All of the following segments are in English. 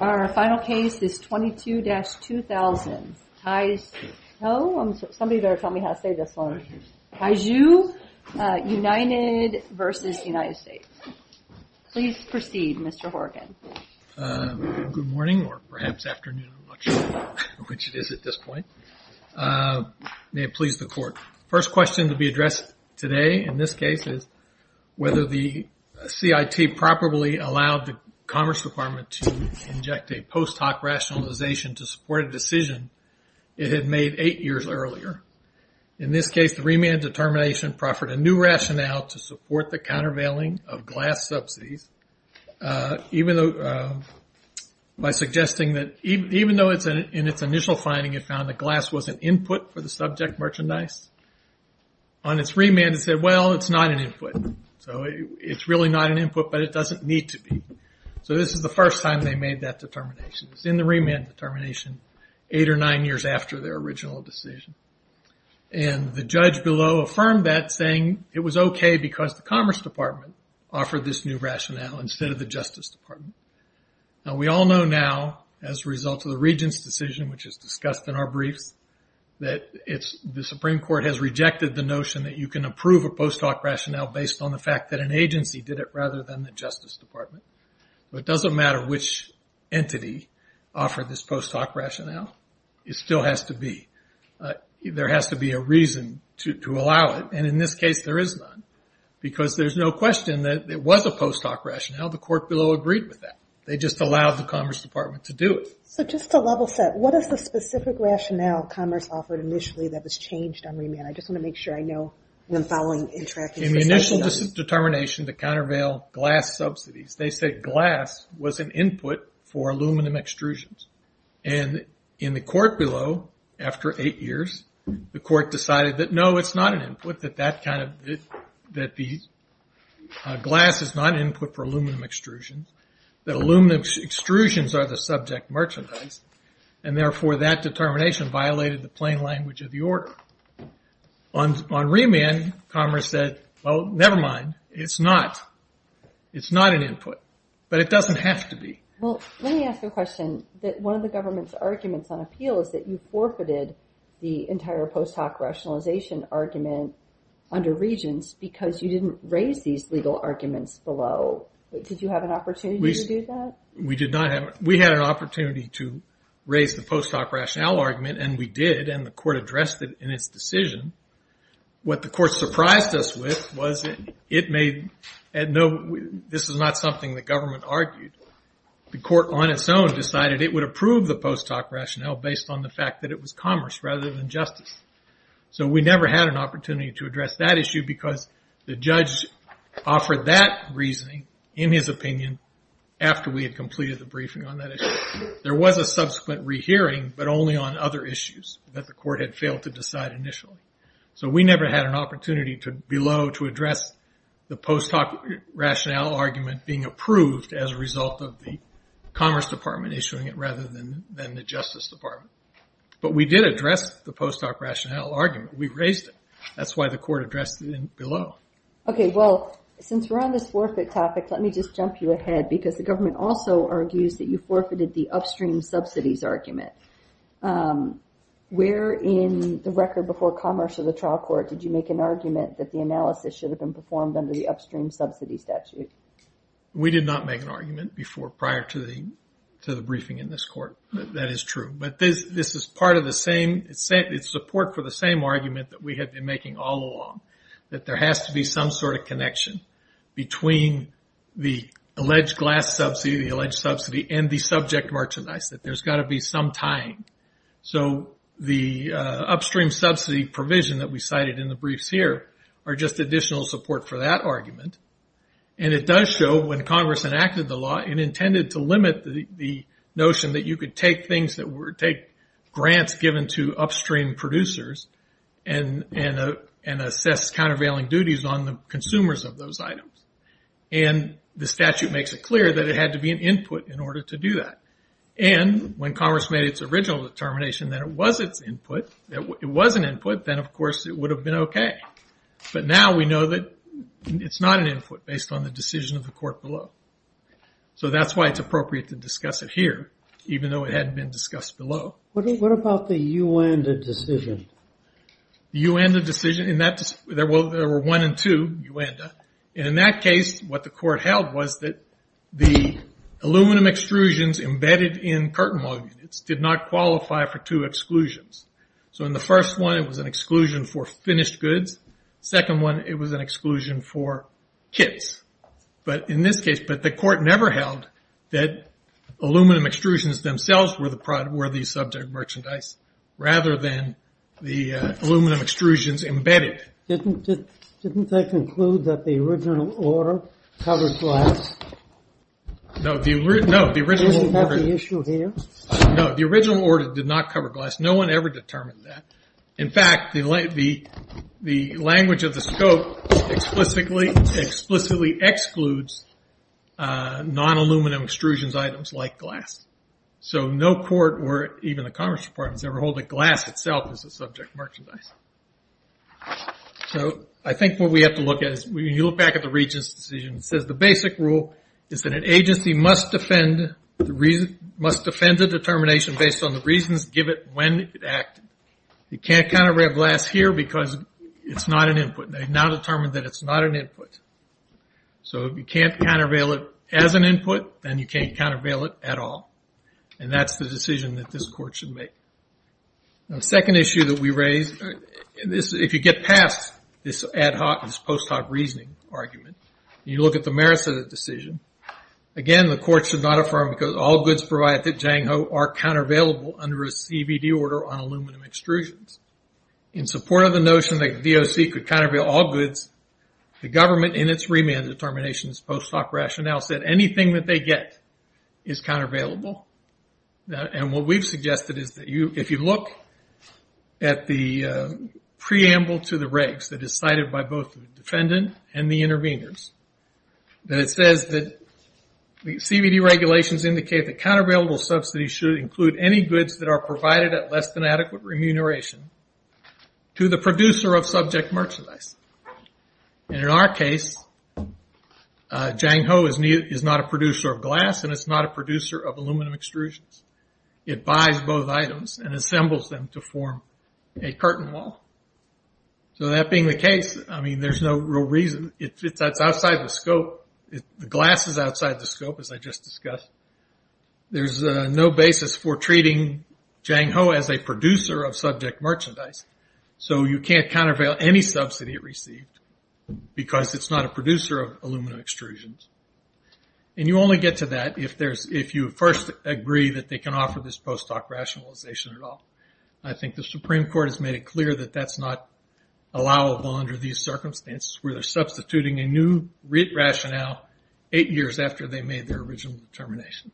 Our final case is 22-2000, Taizhou United v. United States. Please proceed, Mr. Horgan. Good morning, or perhaps afternoon, I'm not sure which it is at this point. May it please the Court. The first question to be addressed today, in this case, is whether the CIT properly allowed the Commerce Department to inject a post hoc rationalization to support a decision it had made eight years earlier. In this case, the remand determination proffered a new rationale to support the countervailing of glass subsidies, by suggesting that even though in its initial finding it found that glass was an input for the subject merchandise, on its remand it said, well, it's not an input. So it's really not an input, but it doesn't need to be. So this is the first time they made that determination. It's in the remand determination, eight or nine years after their original decision. The judge below affirmed that, saying it was okay because the Commerce Department offered this new rationale, instead of the Justice Department. We all know now, as a result of the Regents' decision, which is discussed in our briefs, that the Supreme Court has rejected the notion that you can approve a post hoc rationale based on the fact that an agency did it, rather than the Justice Department. But it doesn't matter which entity offered this post hoc rationale. It still has to be. There has to be a reason to allow it, and in this case there is none. Because there's no question that it was a post hoc rationale. The court below agreed with that. They just allowed the Commerce Department to do it. So just to level set, what is the specific rationale Commerce offered initially that was changed on remand? I just want to make sure I know when following and tracking. In the initial determination to countervail glass subsidies, they said glass was an input for aluminum extrusions. And in the court below, after eight years, the court decided that no, it's not an input. That the glass is not an input for aluminum extrusions. That aluminum extrusions are the subject merchandise. And therefore that determination violated the plain language of the order. On remand, Commerce said, well, never mind. It's not an input. But it doesn't have to be. Well, let me ask a question. One of the government's arguments on appeal is that you forfeited the entire post hoc rationalization argument under Regents because you didn't raise these legal arguments below. Did you have an opportunity to do that? We had an opportunity to raise the post hoc rationale argument, and we did. And the court addressed it in its decision. What the court surprised us with was it made, no, this is not something the government argued. The court on its own decided it would approve the post hoc rationale based on the fact that it was Commerce rather than Justice. So we never had an opportunity to address that issue because the judge offered that reasoning in his opinion after we had completed the briefing on that issue. There was a subsequent rehearing, but only on other issues that the court had failed to decide initially. So we never had an opportunity below to address the post hoc rationale argument being approved as a result of the Commerce Department issuing it rather than the Justice Department. But we did address the post hoc rationale argument. We raised it. That's why the court addressed it below. Okay, well, since we're on this forfeit topic, let me just jump you ahead because the government also argues that you forfeited the upstream subsidies argument. Where in the record before Commerce or the trial court did you make an argument that the analysis should have been performed under the upstream subsidies statute? We did not make an argument prior to the briefing in this court. That is true. But this is part of the same, it's support for the same argument that we have been making all along. That there has to be some sort of connection between the alleged glass subsidy, the alleged subsidy, and the subject merchandise. That there's got to be some tying. So the upstream subsidy provision that we cited in the briefs here are just additional support for that argument. And it does show when Congress enacted the law, it intended to limit the notion that you could take grants given to upstream producers and assess countervailing duties on the consumers of those items. And the statute makes it clear that it had to be an input in order to do that. And when Commerce made its original determination that it was an input, then of course it would have been okay. But now we know that it's not an input based on the decision of the court below. So that's why it's appropriate to discuss it here, even though it hadn't been discussed below. What about the UANDA decision? The UANDA decision, there were one and two, UANDA. And in that case, what the court held was that the aluminum extrusions embedded in curtain log units did not qualify for two exclusions. So in the first one, it was an exclusion for finished goods. Second one, it was an exclusion for kits. But in this case, the court never held that aluminum extrusions themselves were the subject merchandise, rather than the aluminum extrusions embedded. Didn't they conclude that the original order covered glass? No, the original order did not cover glass. No one ever determined that. In fact, the language of the scope explicitly excludes non-aluminum extrusions items like glass. So no court or even the Commerce Department has ever held that glass itself is the subject merchandise. So I think what we have to look at is when you look back at the Regents' decision, it says the basic rule is that an agency must defend the determination based on the reasons given when it acted. You can't countervail glass here because it's not an input. They've now determined that it's not an input. So if you can't countervail it as an input, then you can't countervail it at all. And that's the decision that this court should make. The second issue that we raise, if you get past this post hoc reasoning argument, you look at the merits of the decision. Again, the court should not affirm because all goods provided at Jang Ho are countervailable under a CBD order on aluminum extrusions. In support of the notion that DOC could countervail all goods, the government in its remand determinations post hoc rationale said anything that they get is countervailable. And what we've suggested is that if you look at the preamble to the regs that is cited by both the defendant and the interveners, that it says that CBD regulations indicate that countervailable subsidies should include any goods that are provided at less than adequate remuneration to the producer of subject merchandise. And in our case, Jang Ho is not a producer of glass and it's not a producer of aluminum extrusions. It buys both items and assembles them to form a curtain wall. So that being the case, I mean, there's no real reason. It's outside the scope. The glass is outside the scope, as I just discussed. There's no basis for treating Jang Ho as a producer of subject merchandise. So you can't countervail any subsidy received because it's not a producer of aluminum extrusions. And you only get to that if you first agree that they can offer this post hoc rationalization at all. I think the Supreme Court has made it clear that that's not allowable under these circumstances where they're substituting a new rate rationale eight years after they made their original determination.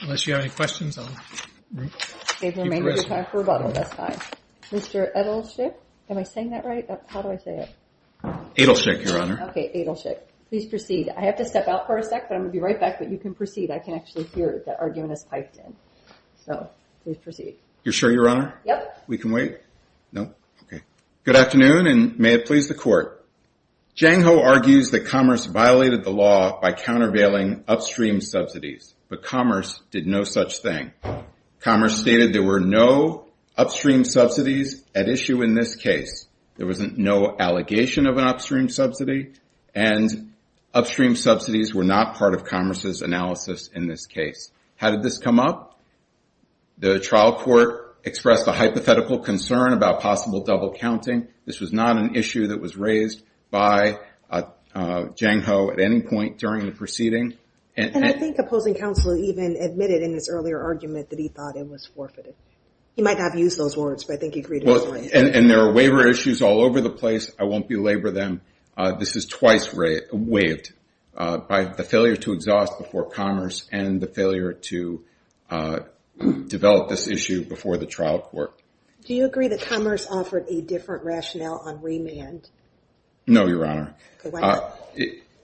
Unless you have any questions, I'll keep the rest of you. We have time for a bottle at this time. Mr. Adelschick, am I saying that right? How do I say it? Adelschick, Your Honor. Okay, Adelschick. Please proceed. I have to step out for a sec, but I'm going to be right back. But you can proceed. I can actually hear that argument is piped in. So please proceed. You're sure, Your Honor? Yep. We can wait? No? Okay. Good afternoon, and may it please the Court. Jang Ho argues that Commerce violated the law by countervailing upstream subsidies, but Commerce did no such thing. Commerce stated there were no upstream subsidies at issue in this case. There was no allegation of an upstream subsidy, and upstream subsidies were not part of Commerce's analysis in this case. How did this come up? The trial court expressed a hypothetical concern about possible double counting. This was not an issue that was raised by Jang Ho at any point during the proceeding. And I think opposing counsel even admitted in his earlier argument that he thought it was forfeited. He might not have used those words, but I think he agreed with me. And there are waiver issues all over the place. I won't belabor them. This is twice waived by the failure to exhaust before Commerce and the failure to develop this issue before the trial court. Do you agree that Commerce offered a different rationale on remand? No, Your Honor.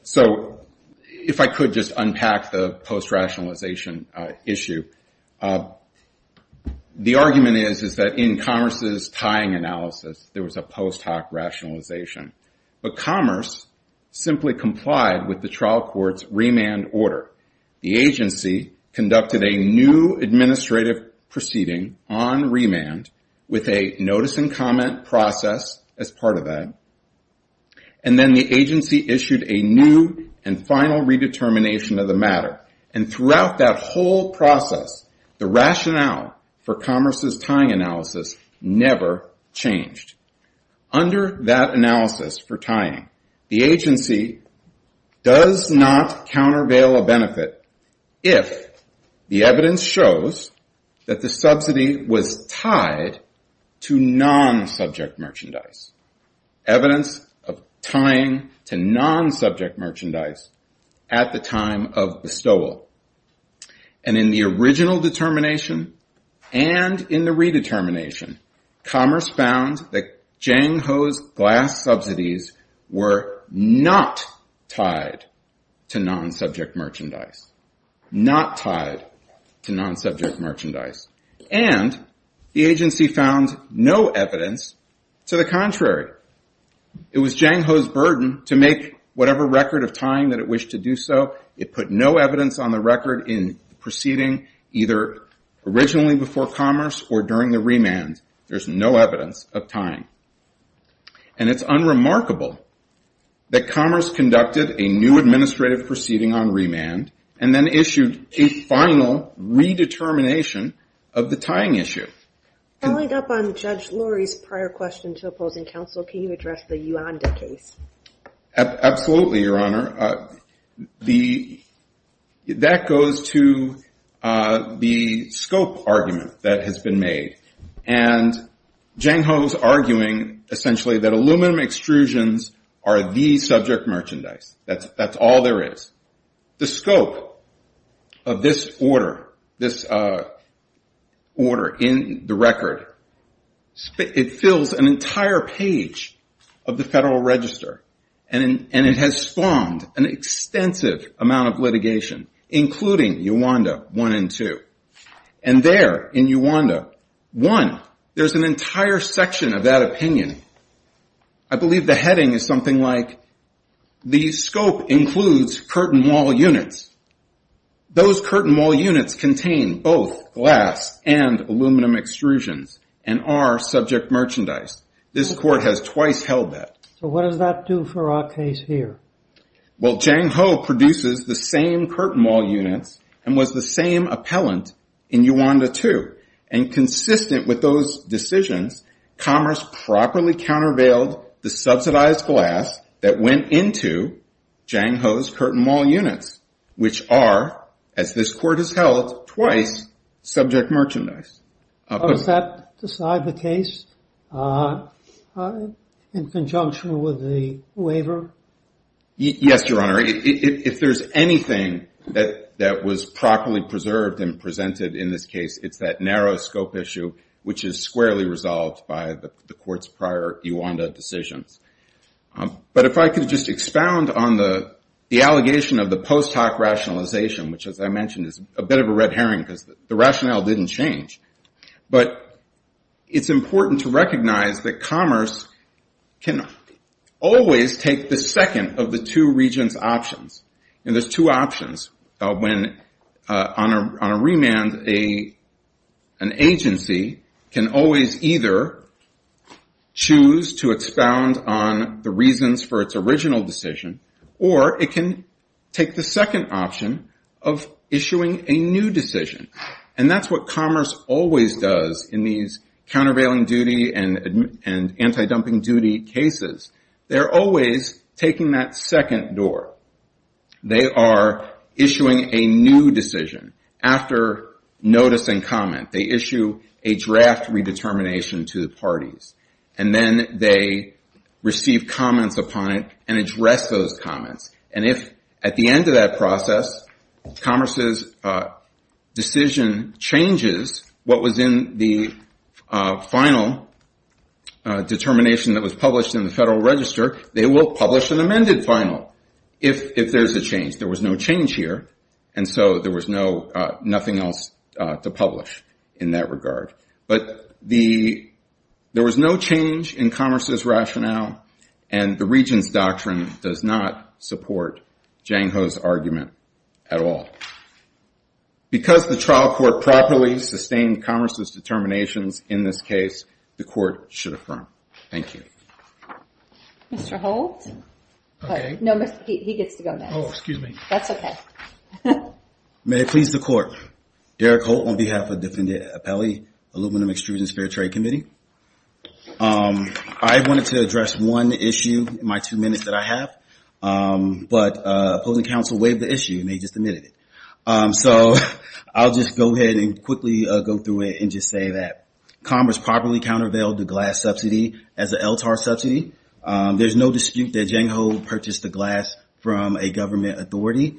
So if I could just unpack the post-rationalization issue. The argument is that in Commerce's tying analysis, there was a post hoc rationalization. But Commerce simply complied with the trial court's remand order. The agency conducted a new administrative proceeding on remand with a notice and comment process as part of that. And then the agency issued a new and final redetermination of the matter. And throughout that whole process, the rationale for Commerce's tying analysis never changed. Under that analysis for tying, the agency does not countervail a benefit if the evidence shows that the subsidy was tied to non-subject merchandise, evidence of tying to non-subject merchandise at the time of bestowal. And in the original determination and in the redetermination, Commerce found that Jang Ho's glass subsidies were not tied to non-subject merchandise. Not tied to non-subject merchandise. And the agency found no evidence to the contrary. It was Jang Ho's burden to make whatever record of tying that it wished to do so. It put no evidence on the record in the proceeding, either originally before Commerce or during the remand. There's no evidence of tying. And it's unremarkable that Commerce conducted a new administrative proceeding on remand and then issued a final redetermination of the tying issue. Following up on Judge Lurie's prior question to opposing counsel, can you address the Uanda case? Absolutely, Your Honor. That goes to the scope argument that has been made. And Jang Ho's arguing essentially that aluminum extrusions are the subject merchandise. That's all there is. The scope of this order, this order in the record, it fills an entire page of the Federal Register. And it has formed an extensive amount of litigation, including Uanda 1 and 2. And there in Uanda 1, there's an entire section of that opinion. I believe the heading is something like, the scope includes curtain wall units. Those curtain wall units contain both glass and aluminum extrusions and are subject merchandise. This Court has twice held that. So what does that do for our case here? Well, Jang Ho produces the same curtain wall units and was the same appellant in Uanda 2. And consistent with those decisions, Commerce properly countervailed the subsidized glass that went into Jang Ho's curtain wall units, which are, as this Court has held twice, subject merchandise. Does that decide the case in conjunction with the waiver? Yes, Your Honor. If there's anything that was properly preserved and presented in this case, it's that narrow scope issue, which is squarely resolved by the Court's prior Uanda decisions. But if I could just expound on the allegation of the post hoc rationalization, which, as I mentioned, is a bit of a red herring because the rationale didn't change. But it's important to recognize that Commerce can always take the second of the two regents' options. And there's two options. On a remand, an agency can always either choose to expound on the reasons for its original decision, or it can take the second option of issuing a new decision. And that's what Commerce always does in these countervailing duty and anti-dumping duty cases. They're always taking that second door. They are issuing a new decision. After notice and comment, they issue a draft redetermination to the parties. And then they receive comments upon it and address those comments. And if, at the end of that process, Commerce's decision changes what was in the final determination that was published in the Federal Register, they will publish an amended final if there's a change. There was no change here, and so there was nothing else to publish in that regard. But there was no change in Commerce's rationale, and the regent's doctrine does not support Jang Ho's argument at all. Because the trial court properly sustained Commerce's determinations in this case, the court should affirm. Thank you. Mr. Holt? No, he gets to go next. Oh, excuse me. That's okay. May it please the court. Derek Holt on behalf of the Defendant Appellee Aluminum Extrusion Spare Trade Committee. I wanted to address one issue in my two minutes that I have, but opposing counsel waived the issue and they just admitted it. So I'll just go ahead and quickly go through it and just say that Commerce properly countervailed the glass subsidy as an LTAR subsidy. There's no dispute that Jang Ho purchased the glass from a government authority.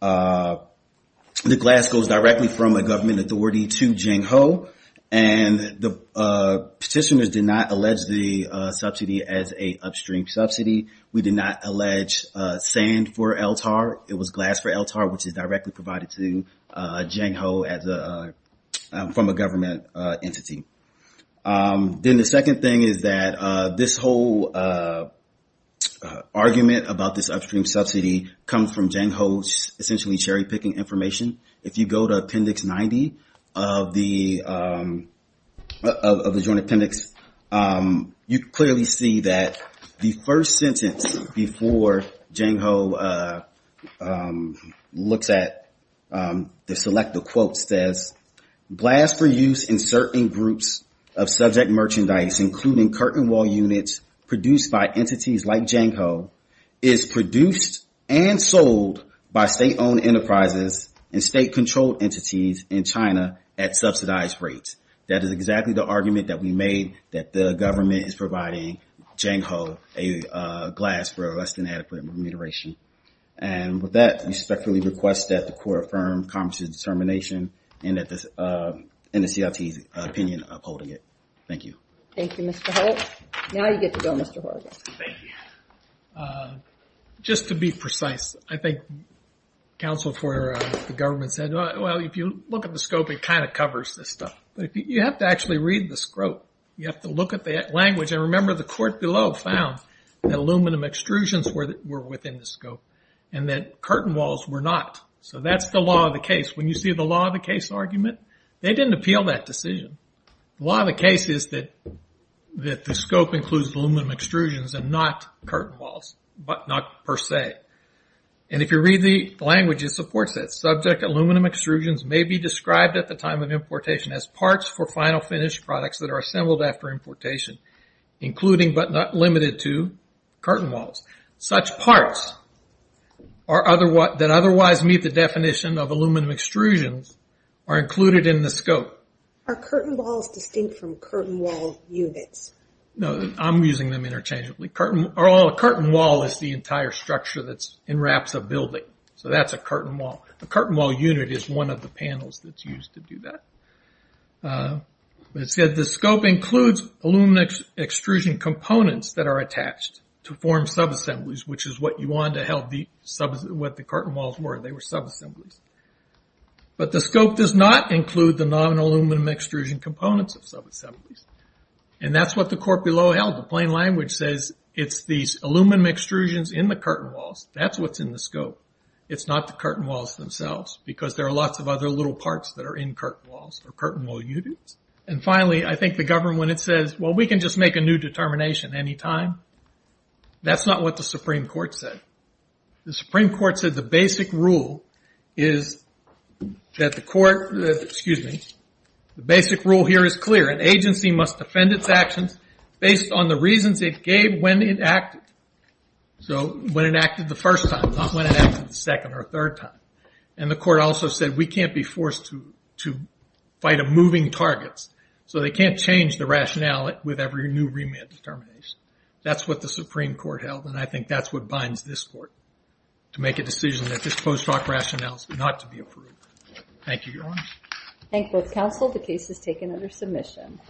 The glass goes directly from a government authority to Jang Ho, and the petitioners did not allege the subsidy as a upstream subsidy. We did not allege sand for LTAR. It was glass for LTAR, which is directly provided to Jang Ho from a government entity. Then the second thing is that this whole argument about this upstream subsidy comes from Jang Ho's essentially cherry-picking information. If you go to Appendix 90 of the Joint Appendix, you clearly see that the first sentence before Jang Ho looks at the selected quotes says, Glass for use in certain groups of subject merchandise, including curtain wall units produced by entities like Jang Ho, is produced and sold by state-owned enterprises and state-controlled entities in China at subsidized rates. That is exactly the argument that we made that the government is providing Jang Ho a glass for less than adequate remuneration. And with that, we respectfully request that the court affirm Congress' determination in the CLT's opinion upholding it. Thank you. Thank you, Mr. Holt. Now you get to go, Mr. Horgan. Thank you. Just to be precise, I think counsel for the government said, well, if you look at the scope, it kind of covers this stuff. But you have to actually read the scope. You have to look at the language. And remember, the court below found that aluminum extrusions were within the scope and that curtain walls were not. So that's the law of the case. When you see the law of the case argument, they didn't appeal that decision. The law of the case is that the scope includes aluminum extrusions and not curtain walls, not per se. And if you read the language, it supports that. Subject aluminum extrusions may be described at the time of importation as parts for final finished products that are assembled after importation, including but not limited to curtain walls. Such parts that otherwise meet the definition of aluminum extrusions are included in the scope. Are curtain walls distinct from curtain wall units? No, I'm using them interchangeably. A curtain wall is the entire structure that's in wraps of building. So that's a curtain wall. A curtain wall unit is one of the panels that's used to do that. But it said the scope includes aluminum extrusion components that are attached to form subassemblies, which is what you wanted to help what the curtain walls were. They were subassemblies. But the scope does not include the non-aluminum extrusion components of subassemblies. And that's what the court below held. The plain language says it's these aluminum extrusions in the curtain walls. That's what's in the scope. It's not the curtain walls themselves, because there are lots of other little parts that are in curtain walls or curtain wall units. And finally, I think the government, when it says, well, we can just make a new determination any time, that's not what the Supreme Court said. The Supreme Court said the basic rule is that the court, excuse me, the basic rule here is clear. An agency must defend its actions based on the reasons it gave when it acted. So when it acted the first time, not when it acted the second or third time. And the court also said we can't be forced to fight a moving target, so they can't change the rationale with every new remand determination. That's what the Supreme Court held, and I think that's what binds this court, to make a decision that this post hoc rationale is not to be approved. Thank you, Your Honor. Thank you, both counsel. The case is taken under submission.